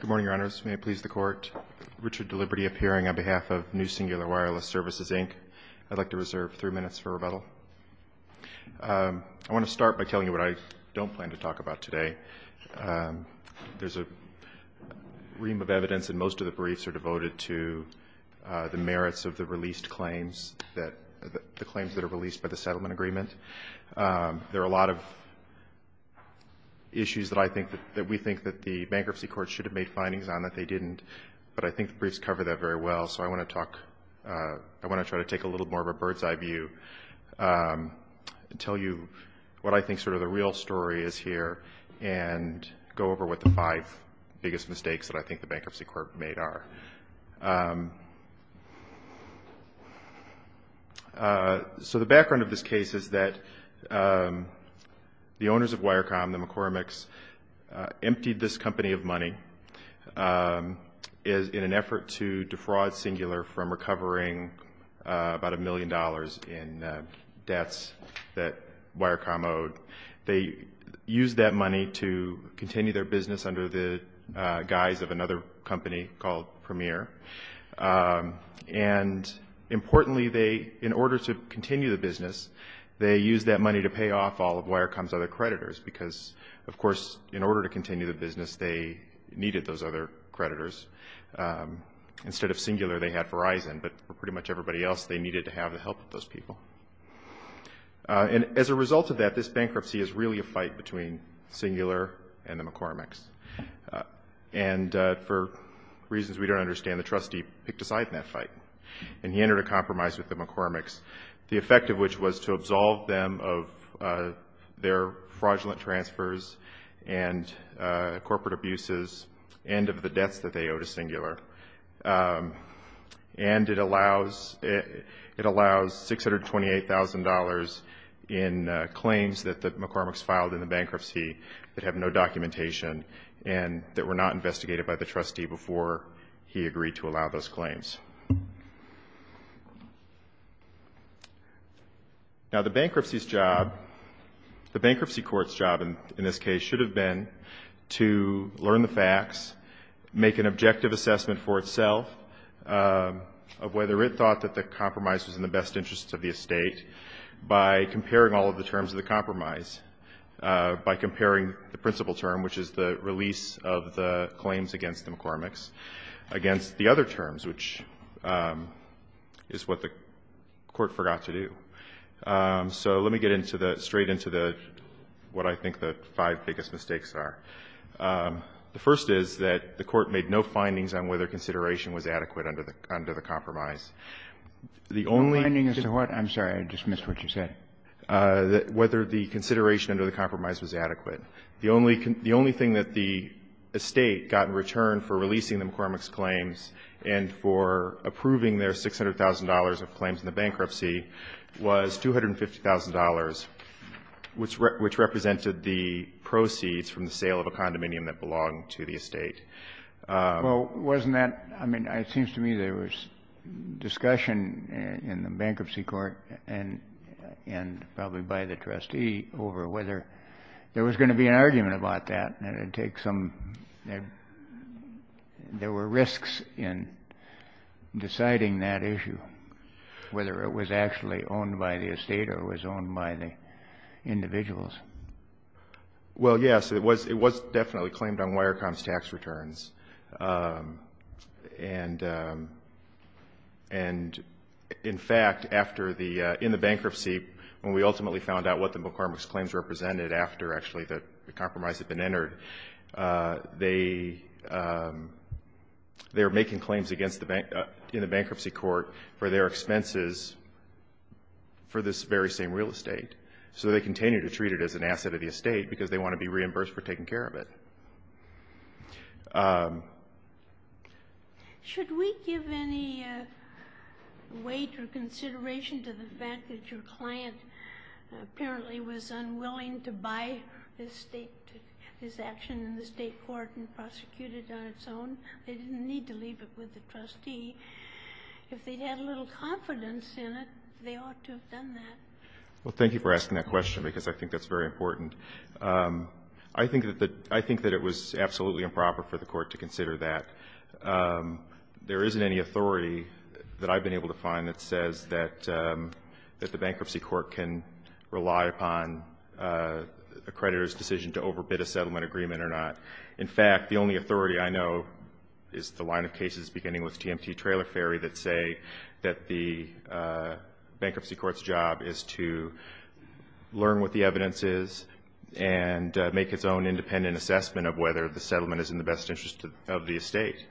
Good morning, Your Honors. May it please the Court, Richard Deliberty appearing on behalf of New Cingular Wireless Services, Inc. I'd like to reserve three minutes for rebuttal. I want to start by telling you what I don't plan to talk about today. There's a ream of evidence, and most of the briefs are devoted to the merits of the released claims, the claims that are released by the settlement agreement. There are a lot of issues that we think that the bankruptcy court should have made findings on that they didn't, but I think the briefs cover that very well. So I want to try to take a little more of a bird's eye view and tell you what I think sort of the real story is here and go over what the five biggest mistakes that I think the bankruptcy court made are. So the background of this case is that the owners of Wirecom, the McCormicks, emptied this company of money in an effort to defraud Cingular from recovering about a million dollars in debts that Wirecom owed. They used that money to continue their business under the guise of another company called Premier. And importantly, in order to continue the business, they used that money to pay off all of Wirecom's other creditors because, of course, in order to continue the business, they needed those other creditors. Instead of Cingular, they had Verizon, but for pretty much everybody else, they needed to have the help of those people. And as a result of that, this bankruptcy is really a fight between Cingular and the McCormicks. And for reasons we don't understand, the trustee picked a side in that fight, and he entered a compromise with the McCormicks, the effect of which was to absolve them of their fraudulent transfers and corporate abuses and of the debts that they owe to Cingular. And it allows $628,000 in claims that the McCormicks filed in the bankruptcy that have no documentation and that were not investigated by the trustee before he agreed to allow those claims. Now, the bankruptcy court's job in this case should have been to learn the facts, make an objective assessment for itself of whether it thought that the compromise was in the best interest of the estate by comparing all of the terms of the compromise, by comparing the principal term, which is the release of the claims against the McCormicks, against the other terms, which is what the court forgot to do. So let me get straight into what I think the five biggest mistakes are. The first is that the court made no findings on whether consideration was adequate under the compromise. The only thing that the estate got in return for releasing the McCormicks claims and for approving their $600,000 of claims in the bankruptcy was $250,000, the sale of a condominium that belonged to the estate. Well, wasn't that, I mean, it seems to me there was discussion in the bankruptcy court and probably by the trustee over whether there was going to be an argument about that and it would take some, there were risks in deciding that issue, whether it was actually owned by the estate or it was owned by the individuals. Well, yes, it was definitely claimed on wire comps tax returns. And in fact, in the bankruptcy, when we ultimately found out what the McCormicks claims represented after actually the compromise had been entered, they were making claims in the bankruptcy court for their expenses for this very same real estate. So they continue to treat it as an asset of the estate because they want to be reimbursed for taking care of it. Should we give any weight or consideration to the fact that your client apparently was unwilling to buy this action in the state court and prosecute it on its own? They didn't need to leave it with the trustee. If they had a little confidence in it, they ought to have done that. Well, thank you for asking that question because I think that's very important. I think that it was absolutely improper for the court to consider that. There isn't any authority that I've been able to find that says that the bankruptcy court can rely upon a creditor's decision to overbid a settlement agreement or not. In fact, the only authority I know is the line of cases beginning with TMT Trailer Ferry that say that the bankruptcy court's job is to learn what the evidence is and make its own independent assessment of whether the settlement is in the best interest of the estate.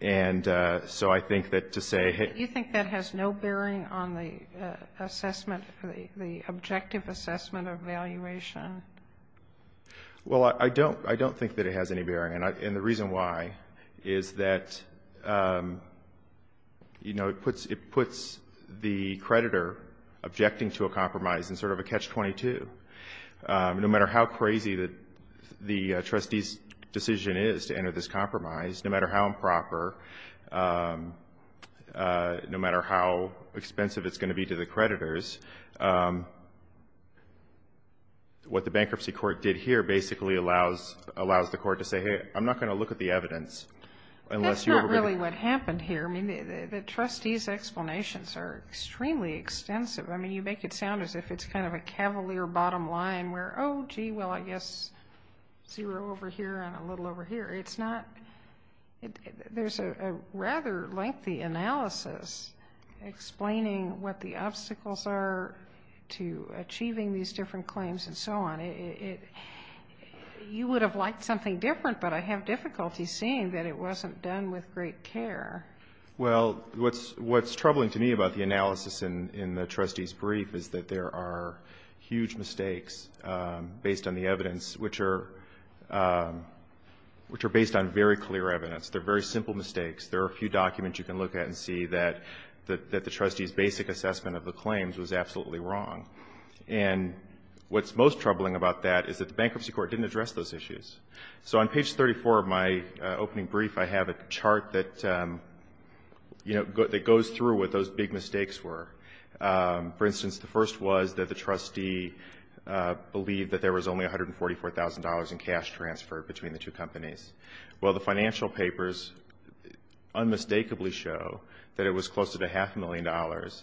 And so I think that to say hey ---- Do you think that has no bearing on the assessment, the objective assessment evaluation? Well, I don't think that it has any bearing. And the reason why is that it puts the creditor objecting to a compromise in sort of a catch-22. No matter how crazy the trustee's decision is to enter this compromise, no matter how improper, no matter how expensive it's going to be to the creditors, what the bankruptcy court did here basically allows the court to say, hey, I'm not going to look at the evidence unless you overbid it. That's not really what happened here. I mean, the trustee's explanations are extremely extensive. I mean, you make it sound as if it's kind of a cavalier bottom line where, oh, gee, well, I guess zero over here and a little over here. It's not ---- There's a rather lengthy analysis explaining what the obstacles are to achieving these different claims and so on. You would have liked something different, but I have difficulty seeing that it wasn't done with great care. Well, what's troubling to me about the analysis in the trustee's brief is that there are huge mistakes based on the They're based on very clear evidence. They're very simple mistakes. There are a few documents you can look at and see that the trustee's basic assessment of the claims was absolutely wrong. And what's most troubling about that is that the bankruptcy court didn't address those issues. So on page 34 of my opening brief, I have a chart that goes through what those big mistakes were. For instance, the first was that the trustee believed that there was only $144,000 in cash transferred between the two companies. Well, the financial papers unmistakably show that it was closer to half a million dollars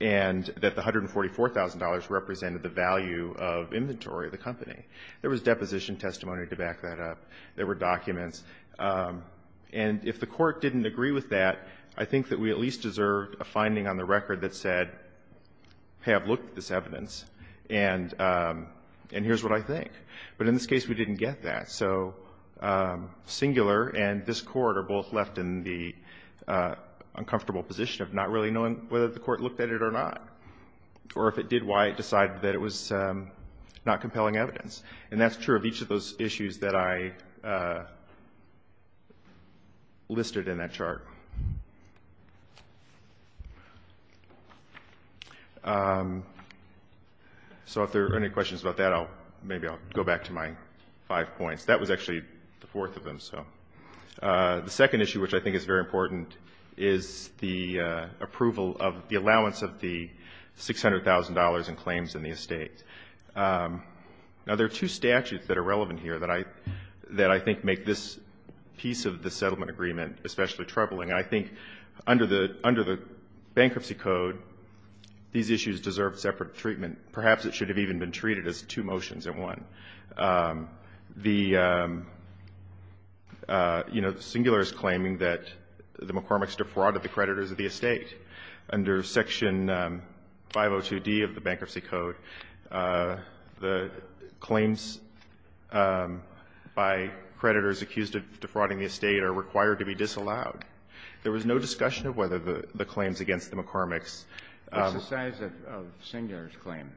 and that the $144,000 represented the value of inventory of the company. There was deposition testimony to back that up. There were documents. And if the court didn't agree with that, I think that we at least deserved a finding on the record that said, have looked at this evidence, and here's what I think. But in this case, we didn't get that. So Singular and this Court are both left in the uncomfortable position of not really knowing whether the court looked at it or not, or if it did, why it decided that it was not compelling evidence. And that's true of each of those issues that I listed in that chart. So if there are any questions about that, maybe I'll go back to my five points. That was actually the fourth of them. The second issue, which I think is very important, is the approval of the allowance of the $600,000 in claims in the estate. Now, there are two statutes that are relevant here that I think make this piece of the settlement agreement especially troubling. And I think under the bankruptcy code, these issues deserve separate treatment. Perhaps it should have even been treated as two motions in one. The, you know, Singular is claiming that the McCormick's defrauded the creditors of the estate. Under Section 502D of the bankruptcy code, the claims by creditors accused of defrauding the estate are required to be disallowed. There was no discussion of whether the claims against the McCormick's. Kennedy. What's the size of Singular's claim?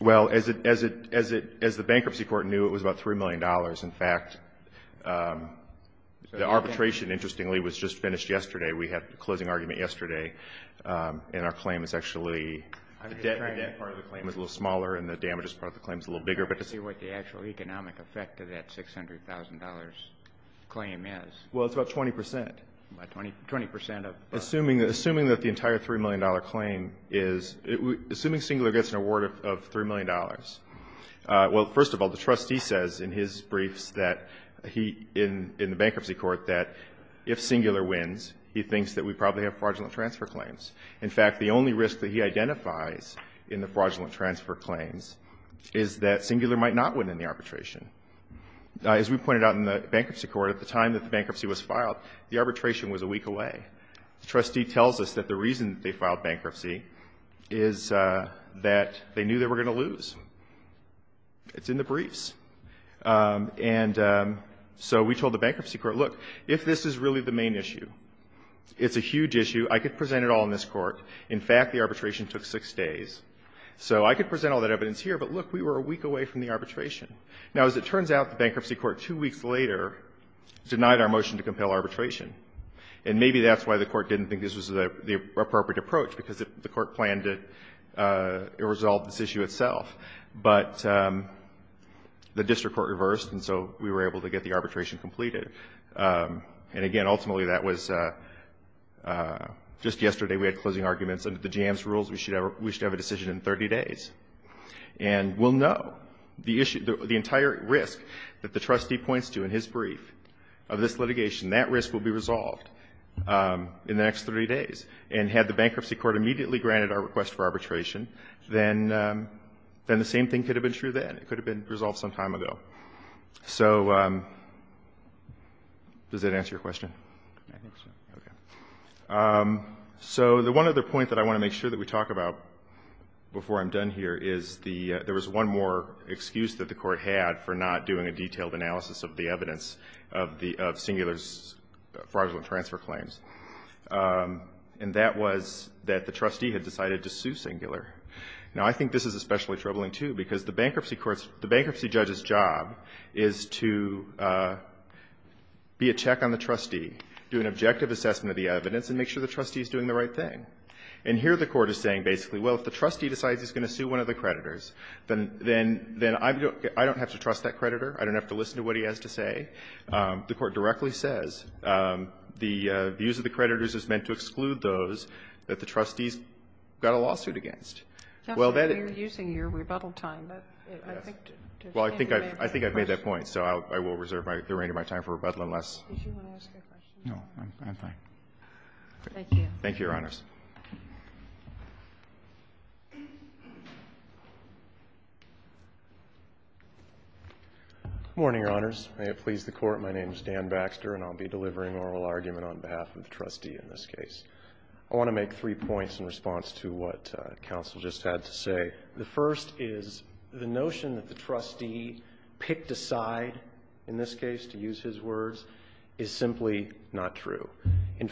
Well, as the bankruptcy court knew, it was about $3 million. In fact, the arbitration, interestingly, was just finished yesterday. We had the closing argument yesterday, and our claim is actually the debt part of the claim is a little smaller, and the damages part of the claim is a little bigger. But to see what the actual economic effect of that $600,000 claim is. Well, it's about 20 percent. About 20 percent of. Assuming that the entire $3 million claim is. Assuming Singular gets an award of $3 million. Well, first of all, the trustee says in his briefs that he in the bankruptcy court that if Singular wins, he thinks that we probably have fraudulent transfer claims. In fact, the only risk that he identifies in the fraudulent transfer claims is that Singular might not win in the arbitration. As we pointed out in the bankruptcy court at the time that the bankruptcy was filed, the arbitration was a week away. The trustee tells us that the reason they filed bankruptcy is that they knew they were going to lose. It's in the briefs. And so we told the bankruptcy court, look, if this is really the main issue, it's a huge issue, I could present it all in this court. In fact, the arbitration took six days. So I could present all that evidence here, but look, we were a week away from the arbitration. Now, as it turns out, the bankruptcy court two weeks later denied our motion to compel arbitration. And maybe that's why the court didn't think this was the appropriate approach, because the court planned to resolve this issue itself. But the district court reversed, and so we were able to get the arbitration completed. And, again, ultimately that was just yesterday we had closing arguments under the JAMS rules. We should have a decision in 30 days. And we'll know the issue, the entire risk that the trustee points to in his brief of this litigation. That risk will be resolved in the next 30 days. And had the bankruptcy court immediately granted our request for arbitration, then the same thing could have been true then. It could have been resolved some time ago. So does that answer your question? I think so. Okay. So the one other point that I want to make sure that we talk about before I'm done here is there was one more excuse that the court had for not doing a detailed analysis of the evidence of Singular's fraudulent transfer claims. And that was that the trustee had decided to sue Singular. Now, I think this is especially troubling, too, because the bankruptcy judge's job is to be a check on the trustee, do an objective assessment of the evidence, and make sure the trustee is doing the right thing. And here the court is saying basically, well, if the trustee decides he's going to sue one of the creditors, then I don't have to trust that creditor. I don't have to listen to what he has to say. The court directly says the use of the creditors is meant to exclude those that the trustees got a lawsuit against. Well, that is the point. You're using your rebuttal time. Well, I think I've made that point, so I will reserve the remainder of my time for rebuttal unless you want to ask a question. No, I'm fine. Thank you. Thank you, Your Honors. Morning, Your Honors. May it please the Court. My name is Dan Baxter, and I'll be delivering oral argument on behalf of the trustee in this case. I want to make three points in response to what counsel just had to say. The first is the notion that the trustee picked a side, in this case, to use his words, is simply not true. The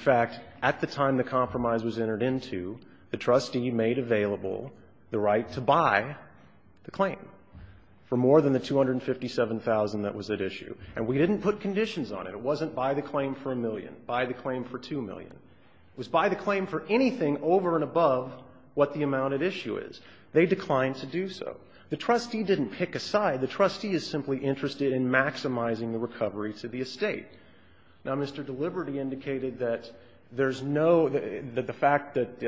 trustee made available the right to buy the claim for more than the $257,000 that was at issue. And we didn't put conditions on it. It wasn't buy the claim for $1 million, buy the claim for $2 million. It was buy the claim for anything over and above what the amount at issue is. They declined to do so. The trustee didn't pick a side. The trustee is simply interested in maximizing the recovery to the estate. Now, Mr. Deliberty indicated that there's no, that the fact that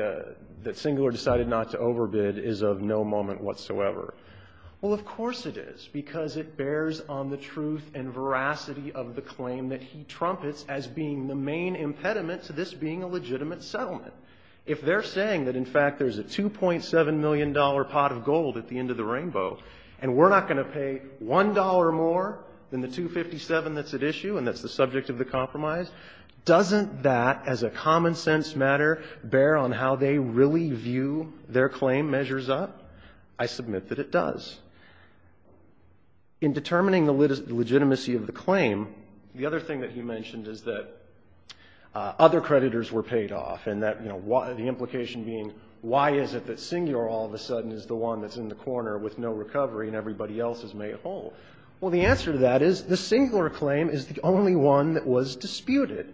Singler decided not to overbid is of no moment whatsoever. Well, of course it is, because it bears on the truth and veracity of the claim that he trumpets as being the main impediment to this being a legitimate settlement. If they're saying that, in fact, there's a $2.7 million pot of gold at the end of the rainbow, and we're not going to pay $1 more than the $257,000 that's at issue and that's the subject of the compromise, doesn't that, as a common-sense matter, bear on how they really view their claim measures up? I submit that it does. In determining the legitimacy of the claim, the other thing that he mentioned is that other creditors were paid off and that, you know, the implication being why is it that Singler all of a sudden is the one that's in the corner with no recovery and everybody else is made whole? Well, the answer to that is the Singler claim is the only one that was disputed.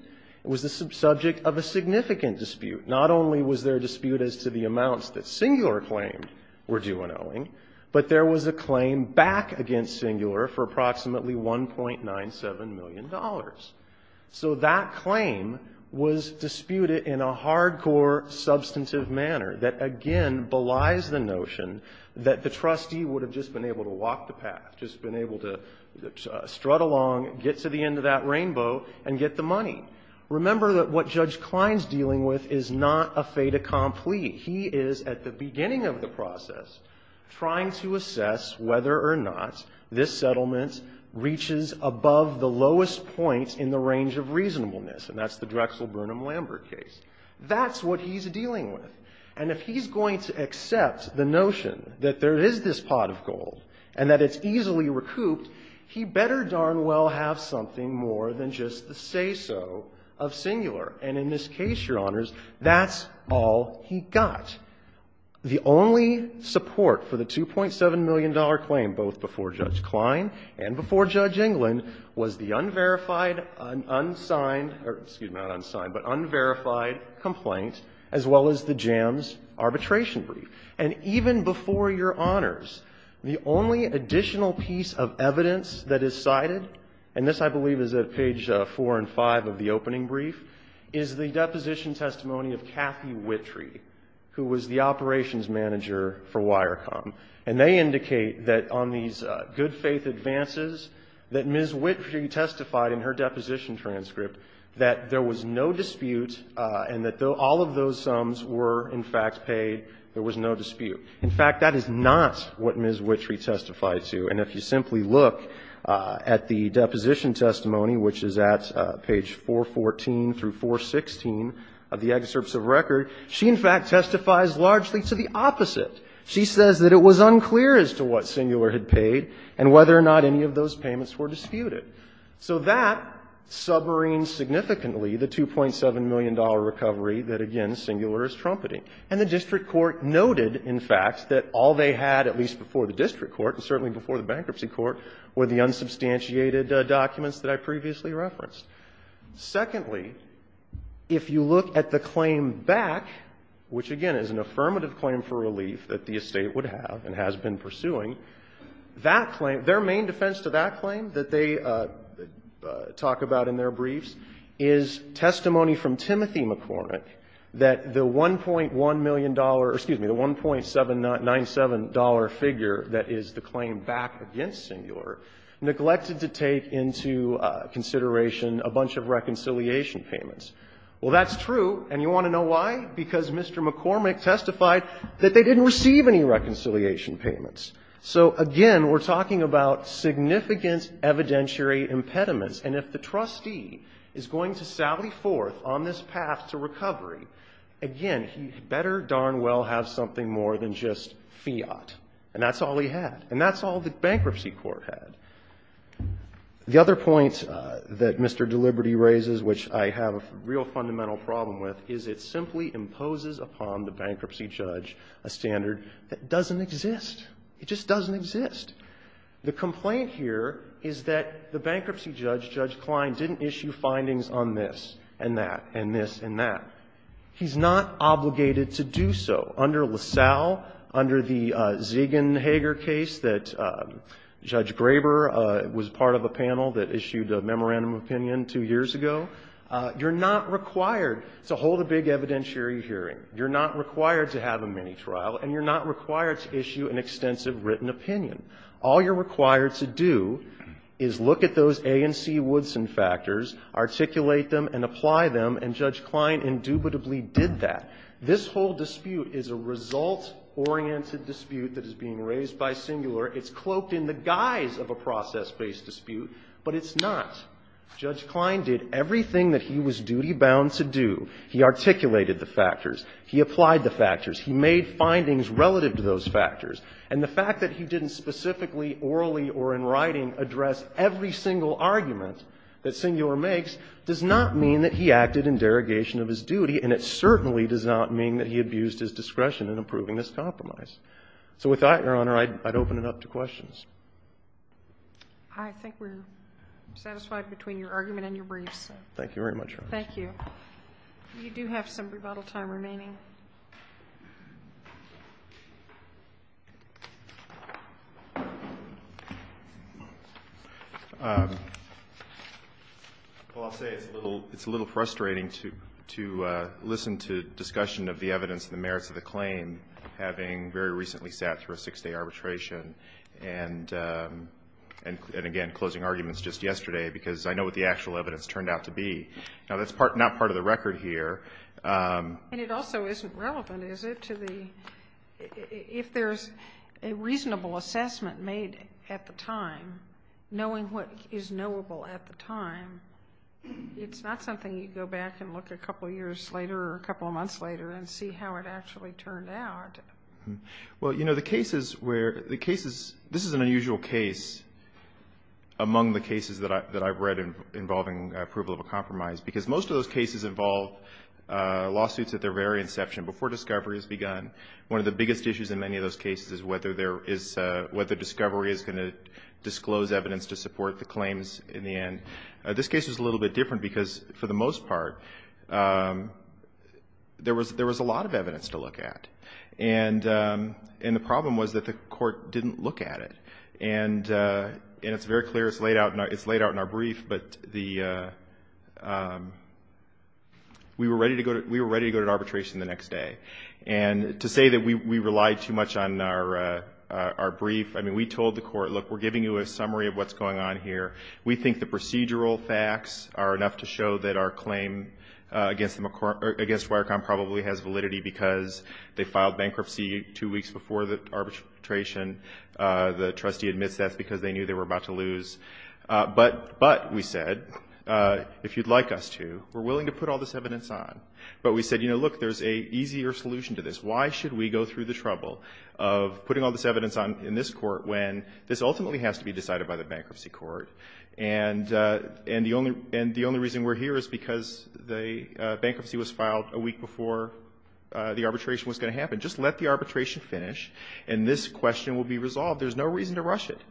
It was the subject of a significant dispute. Not only was there a dispute as to the amounts that Singler claimed were due in Owing, but there was a claim back against Singler for approximately $1.97 million. So that claim was disputed in a hardcore, substantive manner that, again, belies the notion that the trustee would have just been able to walk the path, just been able to strut along, get to the end of that rainbow, and get the money. Remember that what Judge Klein's dealing with is not a fait accompli. He is, at the beginning of the process, trying to assess whether or not this settlement reaches above the lowest point in the range of reasonableness, and that's the Drexel-Burnham-Lambert case. That's what he's dealing with. And if he's going to accept the notion that there is this pot of gold and that it's better darn well have something more than just the say-so of Singler. And in this case, Your Honors, that's all he got. The only support for the $2.7 million claim, both before Judge Klein and before Judge England, was the unverified, unsigned or, excuse me, not unsigned, but unverified complaint as well as the Jams arbitration brief. And even before Your Honors, the only additional piece of evidence that is cited, and this, I believe, is at page 4 and 5 of the opening brief, is the deposition testimony of Kathy Wittree, who was the operations manager for Wirecom. And they indicate that on these good-faith advances that Ms. Wittree testified in her deposition transcript that there was no dispute and that all of those sums were, in fact, paid, there was no dispute. In fact, that is not what Ms. Wittree testified to. And if you simply look at the deposition testimony, which is at page 414 through 416 of the excerpts of record, she, in fact, testifies largely to the opposite. She says that it was unclear as to what Singler had paid and whether or not any of those payments were disputed. So that submarines significantly the $2.7 million recovery that, again, Singler is trumpeting. And the district court noted, in fact, that all they had, at least before the district court and certainly before the bankruptcy court, were the unsubstantiated documents that I previously referenced. Secondly, if you look at the claim back, which, again, is an affirmative claim for relief that the Estate would have and has been pursuing, that claim, their main defense to that claim that they talk about in their briefs is testimony from Timothy McCormick, that the $1.1 million or, excuse me, the $1.797 figure that is the claim back against Singler neglected to take into consideration a bunch of reconciliation payments. Well, that's true. And you want to know why? Because Mr. McCormick testified that they didn't receive any reconciliation payments. So, again, we're talking about significant evidentiary impediments. And if the trustee is going to sally forth on this path to recovery, again, he better darn well have something more than just fiat, and that's all he had. And that's all the bankruptcy court had. The other point that Mr. Deliberty raises, which I have a real fundamental problem with, is it simply imposes upon the bankruptcy judge a standard that doesn't exist. It just doesn't exist. The complaint here is that the bankruptcy judge, Judge Klein, didn't issue findings on this and that and this and that. He's not obligated to do so. Under LaSalle, under the Ziegenhager case that Judge Graber was part of a panel that issued a memorandum of opinion two years ago, you're not required to hold a big evidentiary hearing. You're not required to have a mini-trial. And you're not required to issue an extensive written opinion. All you're required to do is look at those A and C Woodson factors, articulate them, and apply them, and Judge Klein indubitably did that. This whole dispute is a result-oriented dispute that is being raised by Singular. It's cloaked in the guise of a process-based dispute, but it's not. Judge Klein did everything that he was duty-bound to do. He articulated the factors. He applied the factors. He made findings relative to those factors. And the fact that he didn't specifically orally or in writing address every single argument that Singular makes does not mean that he acted in derogation of his duty, and it certainly does not mean that he abused his discretion in approving this compromise. So with that, Your Honor, I'd open it up to questions. I think we're satisfied between your argument and your briefs. Thank you very much, Your Honor. Thank you. You do have some rebuttal time remaining. Well, I'll say it's a little frustrating to listen to discussion of the evidence and the merits of the claim having very recently sat through a six-day arbitration and, again, closing arguments just yesterday because I know what the actual evidence turned out to be. Now, that's not part of the record here. And it also isn't relevant, is it, to the – if there's a reasonable assessment made at the time, knowing what is knowable at the time, it's not something you go back and look a couple of years later or a couple of months later and see how it actually turned out. Well, you know, the cases where – the cases – this is an unusual case among the mines because most of those cases involve lawsuits at their very inception, before discovery has begun. One of the biggest issues in many of those cases is whether there is – whether discovery is going to disclose evidence to support the claims in the end. This case is a little bit different because, for the most part, there was a lot of evidence to look at. And the problem was that the court didn't look at it. And it's very clear, it's laid out in our brief, but the – we were ready to go to arbitration the next day. And to say that we relied too much on our brief – I mean, we told the court, look, we're giving you a summary of what's going on here. We think the procedural facts are enough to show that our claim against Wirecom probably has validity because they filed bankruptcy two weeks before the arbitration. The trustee admits that's because they knew they were about to lose. But we said, if you'd like us to, we're willing to put all this evidence on. But we said, you know, look, there's an easier solution to this. Why should we go through the trouble of putting all this evidence in this court when this ultimately has to be decided by the bankruptcy court? And the only reason we're here is because the bankruptcy was filed a week before the arbitration was going to happen. Just let the arbitration finish. And this question will be resolved. There's no reason to rush it.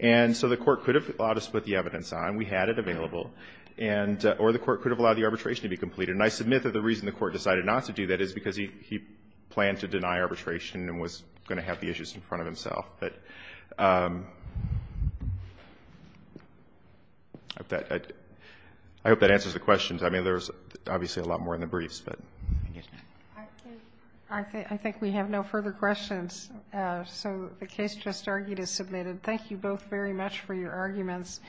And so the court could have allowed us to put the evidence on. We had it available. Or the court could have allowed the arbitration to be completed. And I submit that the reason the court decided not to do that is because he planned to deny arbitration and was going to have the issues in front of himself. But I hope that answers the questions. I mean, there's obviously a lot more in the briefs. I think we have no further questions. So the case just argued is submitted. Thank you both very much for your arguments.